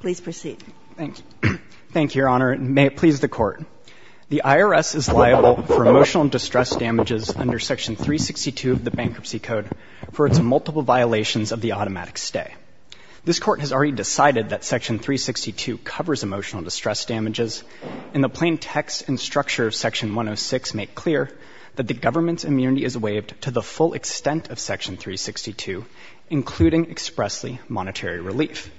Please proceed. Thank you, Your Honor, and may it please the Court. The IRS is liable for emotional distress damages under Section 362 of the Bankruptcy Code for its multiple violations of the automatic stay. This Court has already decided that Section 362 covers emotional distress damages, and the plain text and structure of Section 106 make clear that the including expressly monetary relief.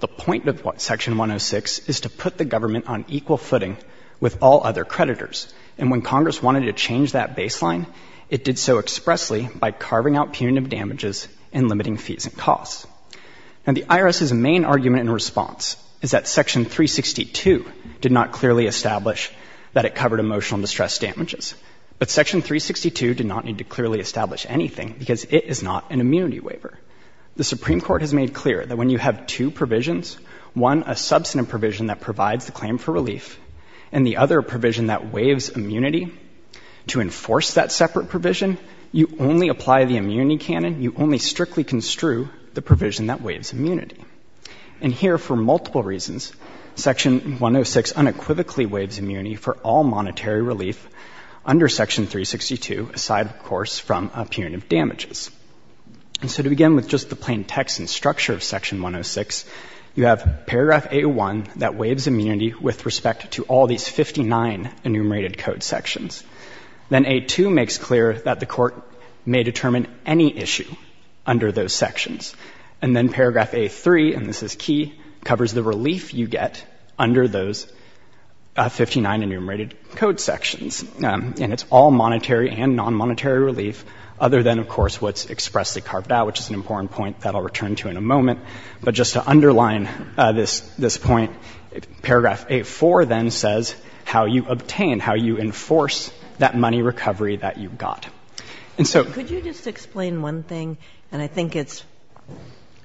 The point of what Section 106 is to put the government on equal footing with all other creditors. And when Congress wanted to change that baseline, it did so expressly by carving out punitive damages and limiting fees and costs. And the IRS's main argument in response is that Section 362 did not clearly establish that it covered emotional distress damages. But Section 362 did not need to clearly establish anything, because it is not an immunity waiver. The Supreme Court has made clear that when you have two provisions, one a substantive provision that provides the claim for relief, and the other a provision that waives immunity. To enforce that separate provision, you only apply the immunity canon. You only strictly construe the provision that waives immunity. And here, for multiple reasons, Section 106 unequivocally waives immunity for all monetary relief under Section 362, aside, of course, from punitive damages. And so to begin with just the plain text and structure of Section 106, you have paragraph 801 that waives immunity with respect to all these 59 enumerated code sections. Then 82 makes clear that the Court may determine any issue under those sections. And then paragraph 83, and this is key, covers the relief you get under those 59 enumerated code sections. And it's all monetary and non-monetary relief, other than, of course, what's expressly carved out, which is an important point that I'll return to in a moment. But just to underline this point, paragraph 84 then says how you obtain, how you enforce that money recovery that you got. And so- Could you just explain one thing? And I think it's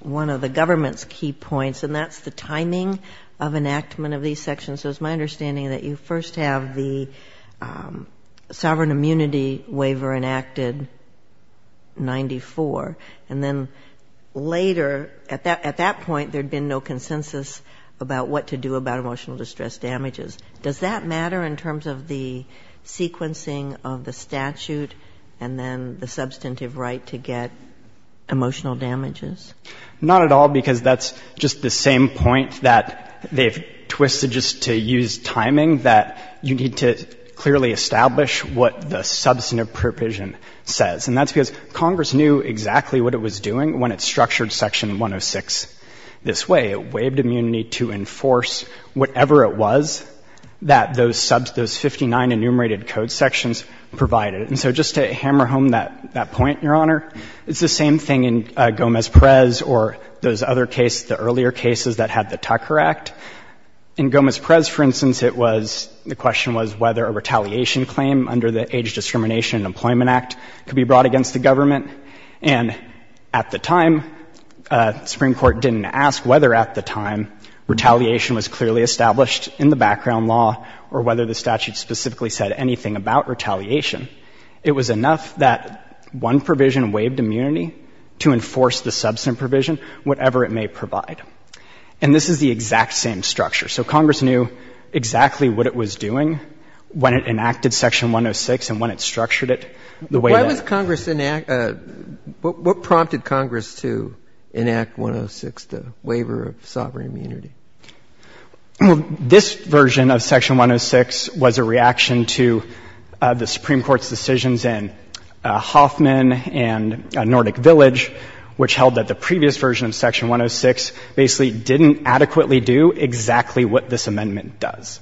one of the government's key points, and that's the timing of enactment of these sections. So it's my understanding that you first have the sovereign immunity waiver enacted, 94. And then later, at that point, there'd been no consensus about what to do about emotional distress damages. Does that matter in terms of the sequencing of the statute and then the substantive right to get emotional damages? Not at all, because that's just the same point that they've twisted just to use timing, that you need to clearly establish what the substantive provision says. And that's because Congress knew exactly what it was doing when it structured Section 106 this way. It waived immunity to enforce whatever it was that those 59 enumerated code sections provided. And so just to hammer home that point, Your Honor, it's the same thing in Gomez-Perez or those other cases, the earlier cases that had the Tucker Act. In Gomez-Perez, for instance, it was, the question was whether a retaliation claim under the Age Discrimination and Employment Act could be brought against the government. And at the time, the Supreme Court didn't ask whether at the time retaliation was clearly established in the background law or whether the statute specifically said anything about retaliation. It was enough that one provision waived immunity to enforce the substantive provision, whatever it may provide. And this is the exact same structure. So Congress knew exactly what it was doing when it enacted Section 106 and when it structured it the way that the statute did. But what prompted Congress to enact 106, the waiver of sovereign immunity? Well, this version of Section 106 was a reaction to the Supreme Court's decisions in Hoffman and Nordic Village which held that the previous version of Section 106 basically didn't adequately do exactly what this amendment does.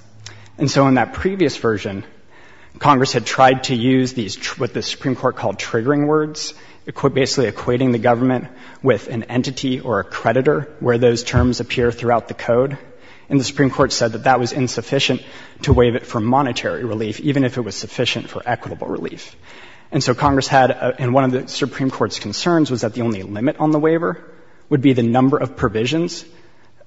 And so in that previous version, Congress had tried to use these, what the Supreme Court called triggering words. Basically equating the government with an entity or a creditor where those terms appear throughout the code. And the Supreme Court said that that was insufficient to waive it for monetary relief, even if it was sufficient for equitable relief. And so Congress had, and one of the Supreme Court's concerns was that the only limit on the waiver would be the number of provisions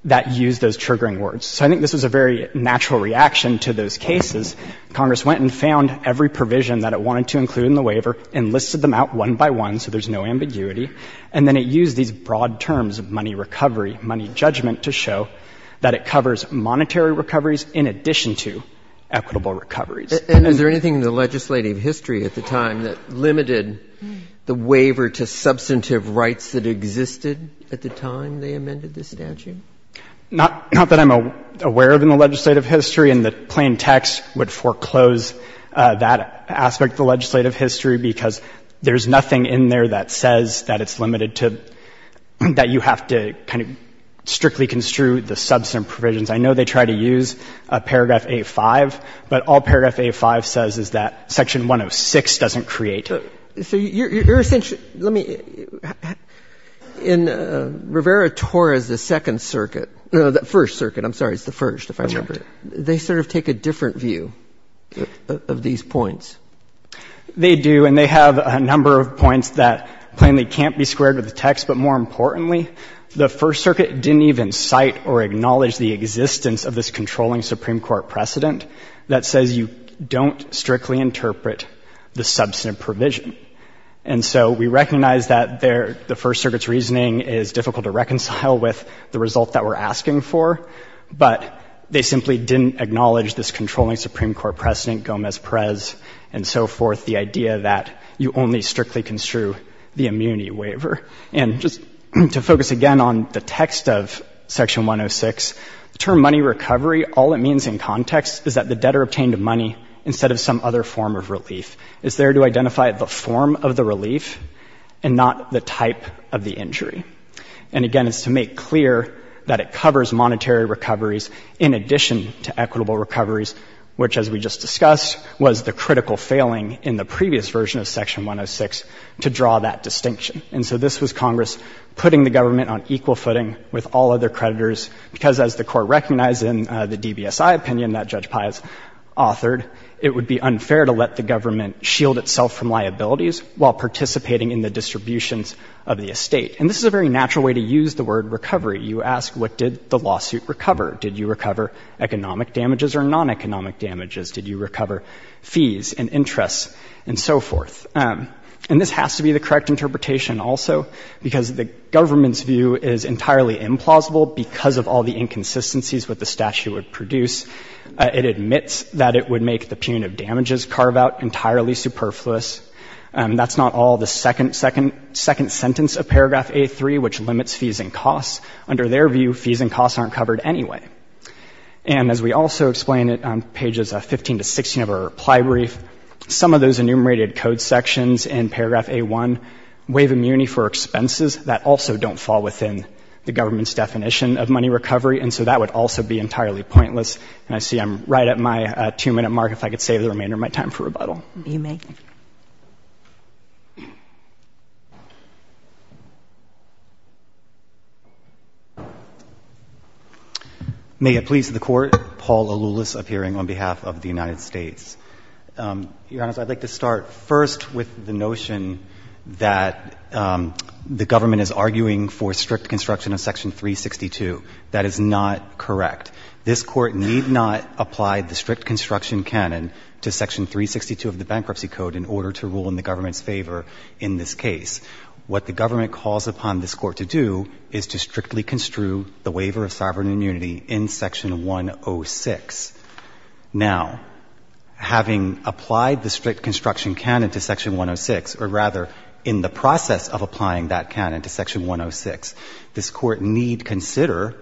that used those triggering words. So I think this was a very natural reaction to those cases. Congress went and found every provision that it wanted to include in the waiver and listed them out one by one so there's no ambiguity. And then it used these broad terms of money recovery, money judgment, to show that it covers monetary recoveries in addition to equitable recoveries. And is there anything in the legislative history at the time that limited the waiver to substantive rights that existed at the time they amended the statute? Not that I'm aware of in the legislative history, and the plain text would foreclose that aspect of the legislative history, because there's nothing in there that says that it's limited to, that you have to kind of strictly construe the substantive provisions. I know they try to use paragraph 8-5, but all paragraph 8-5 says is that Section 106 doesn't create. So you're essentially, let me, in Rivera-Torres, the Second Circuit, no, the First Circuit, I'm sorry, it's the First, if I remember, they sort of take a different view of these points. They do, and they have a number of points that plainly can't be squared with the text. But more importantly, the First Circuit didn't even cite or acknowledge the existence of this controlling Supreme Court precedent that says you don't strictly interpret the substantive provision. And so we recognize that the First Circuit's reasoning is difficult to reconcile with the result that we're asking for, but they simply didn't acknowledge this controlling Supreme Court precedent, Gomez-Perez, and so forth, the idea that you only strictly construe the immunity waiver. And just to focus again on the text of Section 106, the term money recovery, all it means in context is that the debtor obtained money instead of some other form of relief. It's there to identify the form of the relief and not the type of the injury. And again, it's to make clear that it covers monetary recoveries in addition to equitable recoveries, which, as we just discussed, was the critical failing in the previous version of Section 106 to draw that distinction. And so this was Congress putting the government on equal footing with all other creditors because, as the Court recognized in the DBSI opinion that Judge Pius authored, it would be unfair to let the government shield itself from liabilities while participating in the distributions of the estate. And this is a very natural way to use the word recovery. You ask, what did the lawsuit recover? Did you recover economic damages or non-economic damages? Did you recover fees and interests and so forth? And this has to be the correct interpretation also because the government's view is entirely implausible because of all the inconsistencies with the statute would produce. It admits that it would make the punitive damages carve out entirely superfluous. That's not all. The second sentence of Paragraph A3, which limits fees and costs, under their view, fees and costs aren't covered anyway. And as we also explain it on pages 15 to 16 of our reply brief, some of those enumerated code sections in Paragraph A1 waive immunity for expenses that also don't fall within the government's definition of money recovery. And so that would also be entirely pointless. And I see I'm right at my two-minute mark. If I could save the remainder of my time for rebuttal. You may. May it please the Court, Paul Aloulis appearing on behalf of the United States. Your Honor, I'd like to start first with the notion that the government is arguing for strict construction of Section 362. That is not correct. This Court need not apply the strict construction canon to Section 362 of the Bankruptcy Code in order to rule in the government's favor in this case. What the government calls upon this Court to do is to strictly construe the waiver of sovereign immunity in Section 106. Now, having applied the strict construction canon to Section 106, or rather, in the process of applying that canon to Section 106, this Court need consider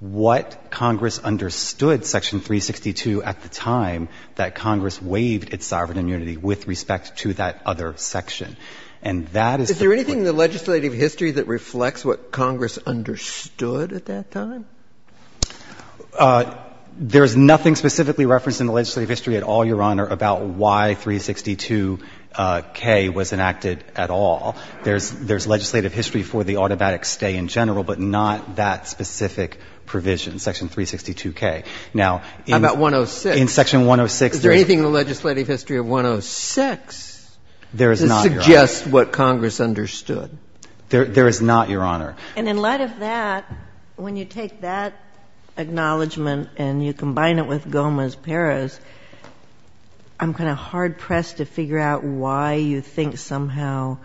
what Congress understood Section 362 at the time that Congress waived its sovereign immunity with respect to that other section. And that is the point. Is there anything in the legislative history that reflects what Congress understood at that time? There is nothing specifically referenced in the legislative history at all, Your Honor, about why 362K was enacted at all. There's legislative history for the automatic stay in general, but not that specific provision, Section 362K. Now, in Section 106 Is there anything in the legislative history of 106 that suggests what Congress understood? There is not, Your Honor. And in light of that, when you take that acknowledgment and you combine it with Gomez-Perez, I'm kind of hard-pressed to figure out why you think somehow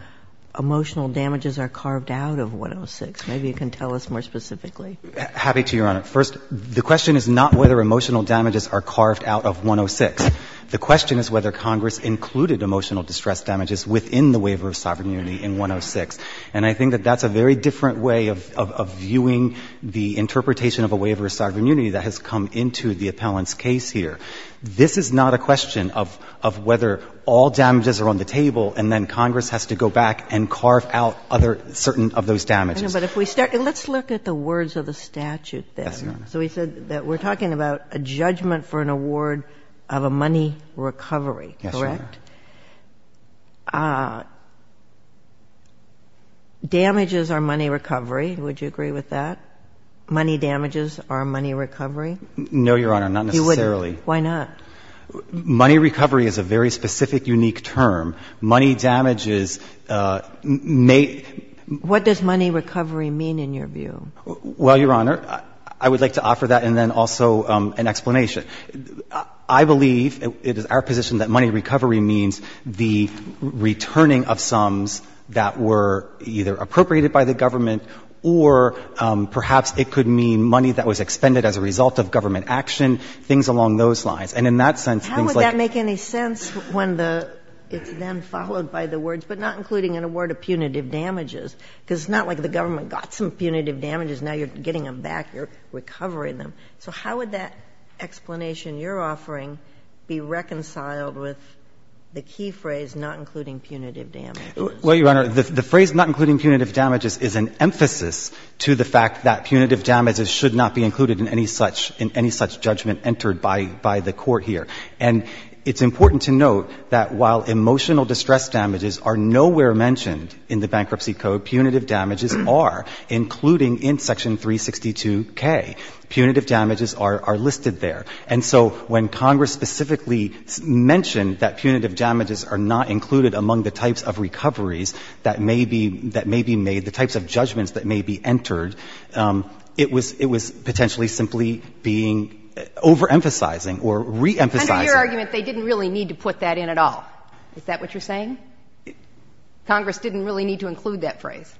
emotional damages are carved out of 106. Maybe you can tell us more specifically. Happy to, Your Honor. First, the question is not whether emotional damages are carved out of 106. The question is whether Congress included emotional distress damages within the waiver of sovereign immunity in 106. And I think that that's a very different way of viewing the interpretation of a waiver of sovereign immunity that has come into the appellant's case here. This is not a question of whether all damages are on the table and then Congress has to go back and carve out other certain of those damages. But if we start, let's look at the words of the statute then. Yes, Your Honor. So we said that we're talking about a judgment for an award of a money recovery. Yes, Your Honor. Correct? Damages are money recovery. Would you agree with that? Money damages are money recovery? No, Your Honor, not necessarily. Why not? Money recovery is a very specific, unique term. Money damages may- What does money recovery mean in your view? Well, Your Honor, I would like to offer that and then also an explanation. I believe it is our position that money recovery means the returning of sums that were either appropriated by the government or perhaps it could mean money that was expended as a result of government action, things along those lines. And in that sense, things like- How would that make any sense when the, it's then followed by the words, but not including in a word of punitive damages, because it's not like the government got some punitive damages, now you're getting them back, you're recovering them. So how would that explanation you're offering be reconciled with the key phrase, not including punitive damages? Well, Your Honor, the phrase not including punitive damages is an emphasis to the fact that punitive damages should not be included in any such judgment entered by the court here. And it's important to note that while emotional distress damages are nowhere mentioned in the Bankruptcy Code, punitive damages are, including in Section 362K. Punitive damages are listed there. And so when Congress specifically mentioned that punitive damages are not included among the types of recoveries that may be made, the types of judgments that may be entered, it was potentially simply being overemphasizing or reemphasizing. Under your argument, they didn't really need to put that in at all. Is that what you're saying? Congress didn't really need to include that phrase.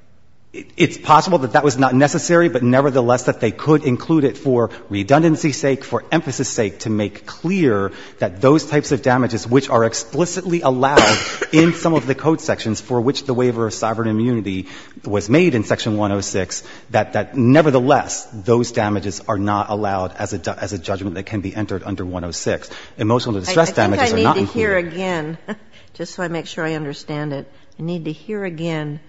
It's possible that that was not necessary, but nevertheless, that they could include it for redundancy's sake, for emphasis' sake, to make clear that those types of damages which are explicitly allowed in some of the code sections for which the waiver of sovereign immunity was made in Section 106, that nevertheless, those damages are not allowed as a judgment that can be entered under 106. Emotional distress damages are not included. I think I need to hear again, just so I make sure I understand it, I need to hear again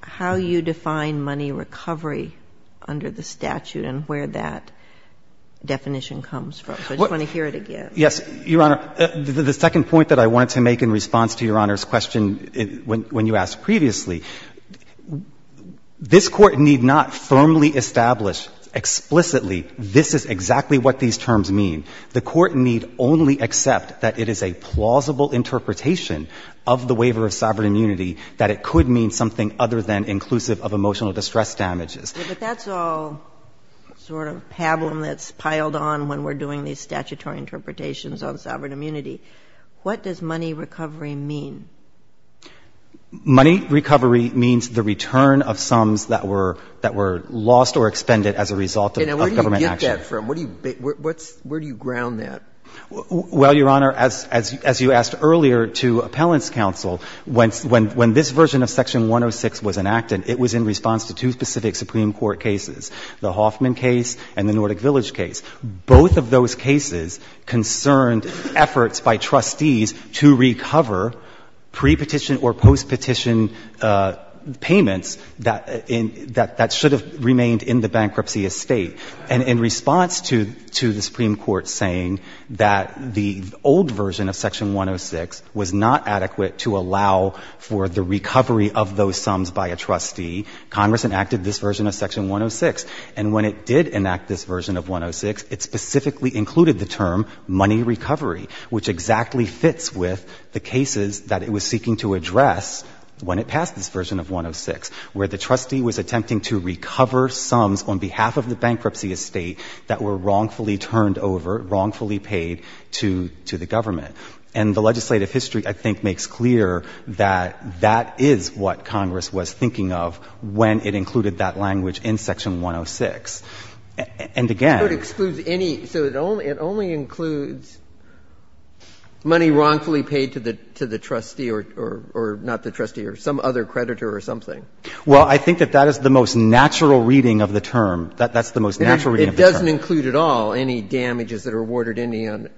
how you define money recovery under the statute and where that definition comes from. So I just want to hear it again. Yes, Your Honor. The second point that I wanted to make in response to Your Honor's question when you asked previously, this Court need not firmly establish explicitly this is exactly what these terms mean. The Court need only accept that it is a plausible interpretation of the waiver of sovereign immunity that it could mean something other than inclusive of emotional distress damages. But that's all sort of pablum that's piled on when we're doing these statutory interpretations on sovereign immunity. What does money recovery mean? Money recovery means the return of sums that were lost or expended as a result of government action. And where do you get that from? Where do you ground that? Well, Your Honor, as you asked earlier to Appellant's counsel, when this version of Section 106 was enacted, it was in response to two specific Supreme Court cases, the Hoffman case and the Nordic Village case. Both of those cases concerned efforts by trustees to recover pre-petition or post-petition payments that should have remained in the bankruptcy estate. And in response to the Supreme Court saying that the old version of Section 106 was not adequate to allow for the recovery of those sums by a trustee, Congress enacted this version of Section 106. And when it did enact this version of 106, it specifically included the term money recovery, which exactly fits with the cases that it was seeking to address when it passed this version of 106, where the trustee was attempting to recover sums on behalf of the bankruptcy estate that were wrongfully turned over, wrongfully paid to the government. And the legislative history, I think, makes clear that that is what Congress was thinking of when it included that language in Section 106. And again — So it excludes any — so it only includes money wrongfully paid to the trustee or not the trustee or some other creditor or something? Well, I think that that is the most natural reading of the term. That's the most natural reading of the term. It doesn't include at all any damages that are awarded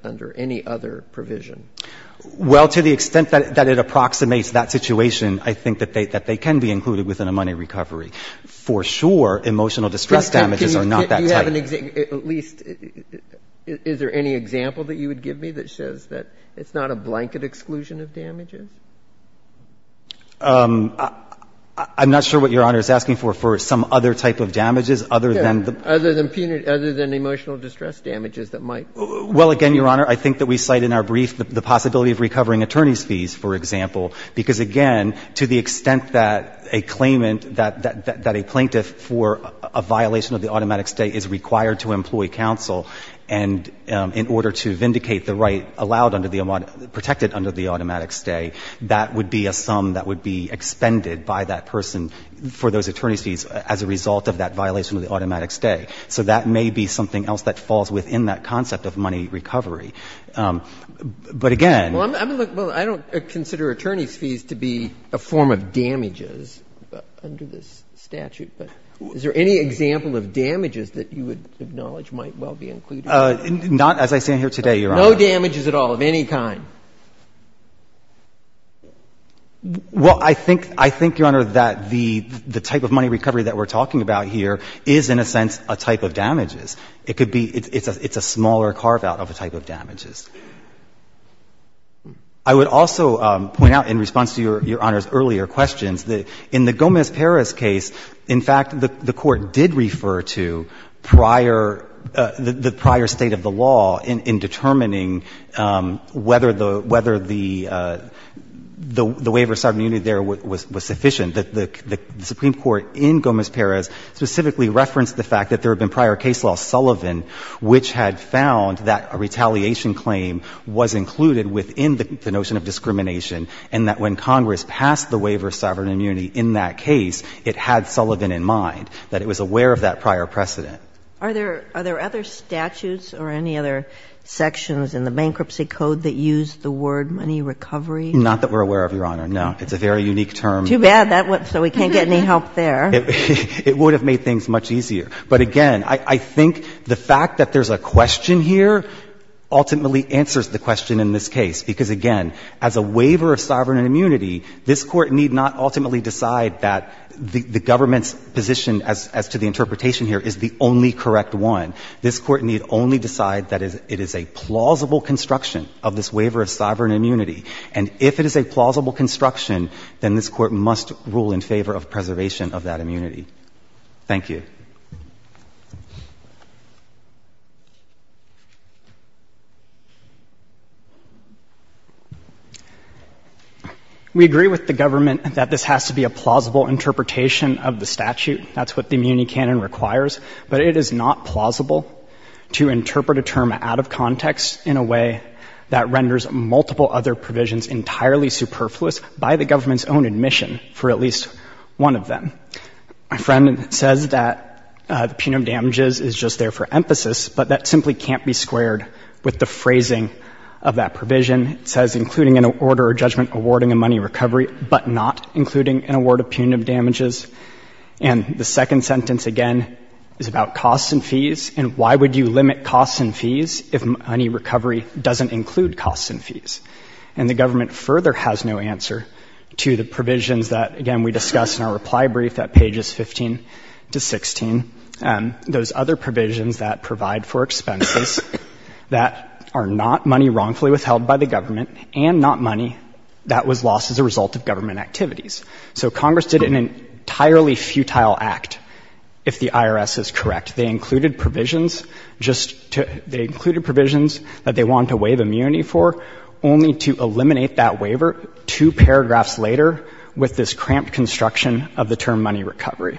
under any other provision? Well, to the extent that it approximates that situation, I think that they can be included within a money recovery. For sure, emotional distress damages are not that tight. Do you have an — at least, is there any example that you would give me that says that it's not a blanket exclusion of damages? I'm not sure what Your Honor is asking for, for some other type of damages other than the — Other than emotional distress damages that might — Well, again, Your Honor, I think that we cite in our brief the possibility of recovering attorney's fees, for example, because, again, to the extent that a claimant — that a plaintiff for a violation of the automatic stay is required to employ counsel and in order to vindicate the right allowed under the — protected under the automatic stay, that would be a sum that would be expended by that person for those attorney's fees as a result of that violation of the automatic stay. So that may be something else that falls within that concept of money recovery. But, again — Well, I don't consider attorney's fees to be a form of damages under this statute, but is there any example of damages that you would acknowledge might well be included? Not — as I stand here today, Your Honor — No damages at all of any kind? Well, I think — I think, Your Honor, that the — the type of money recovery that we're talking about here is, in a sense, a type of damages. It could be — it's a — it's a smaller carve-out of a type of damages. I would also point out, in response to Your Honor's earlier questions, that in the Gomez-Perez case, in fact, the — the Court did refer to prior — the prior state of the law in determining whether the — whether the — the waiver of sovereign immunity there was sufficient. The Supreme Court in Gomez-Perez specifically referenced the fact that there had been prior case law, Sullivan, which had found that a retaliation claim was included within the notion of discrimination, and that when Congress passed the waiver of sovereign immunity in that case, it had Sullivan in mind, that it was aware of that prior precedent. Are there — are there other statutes or any other sections in the bankruptcy code that use the word money recovery? Not that we're aware of, Your Honor, no. It's a very unique term. Too bad that — so we can't get any help there. It would have made things much easier. But again, I — I think the fact that there's a question here ultimately answers the question in this case, because, again, as a waiver of sovereign immunity, this Court need not ultimately decide that the — the government's position as — as to the only correct one. This Court need only decide that it is a plausible construction of this waiver of sovereign immunity. And if it is a plausible construction, then this Court must rule in favor of preservation of that immunity. Thank you. We agree with the government that this has to be a plausible interpretation of the statute. That's what the immunity canon requires. But it is not plausible to interpret a term out of context in a way that renders multiple other provisions entirely superfluous by the government's own admission for at least one of them. My friend says that the punitive damages is just there for emphasis, but that simply can't be squared with the phrasing of that provision. It says, including an order of judgment awarding a money recovery, but not including an award of punitive damages. And the second sentence, again, is about costs and fees, and why would you limit costs and fees if money recovery doesn't include costs and fees? And the government further has no answer to the provisions that, again, we discussed in our reply brief at pages 15 to 16, those other provisions that provide for expenses that are not money wrongfully withheld by the government and not money that was lost as a result of government activities. So Congress did an entirely futile act, if the IRS is correct. They included provisions that they wanted to waive immunity for, only to eliminate that waiver two paragraphs later with this cramped construction of the term money recovery.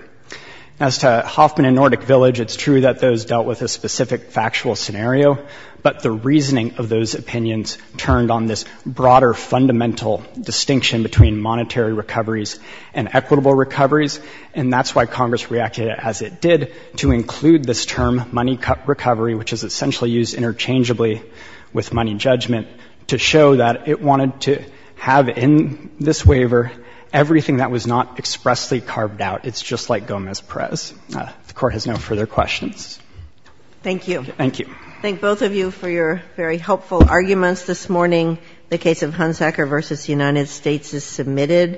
As to Hoffman and Nordic Village, it's true that those dealt with a specific factual scenario, but the reasoning of those opinions turned on this broader fundamental distinction between monetary recoveries and equitable recoveries, and that's why Congress reacted as it did to include this term, money recovery, which is essentially used interchangeably with money judgment, to show that it wanted to have in this waiver everything that was not expressly carved out. It's just like Gomez-Perez. The Court has no further questions. Thank you. Thank you. I thank both of you for your very helpful arguments this morning. The case of Hunsacker v. United States is submitted.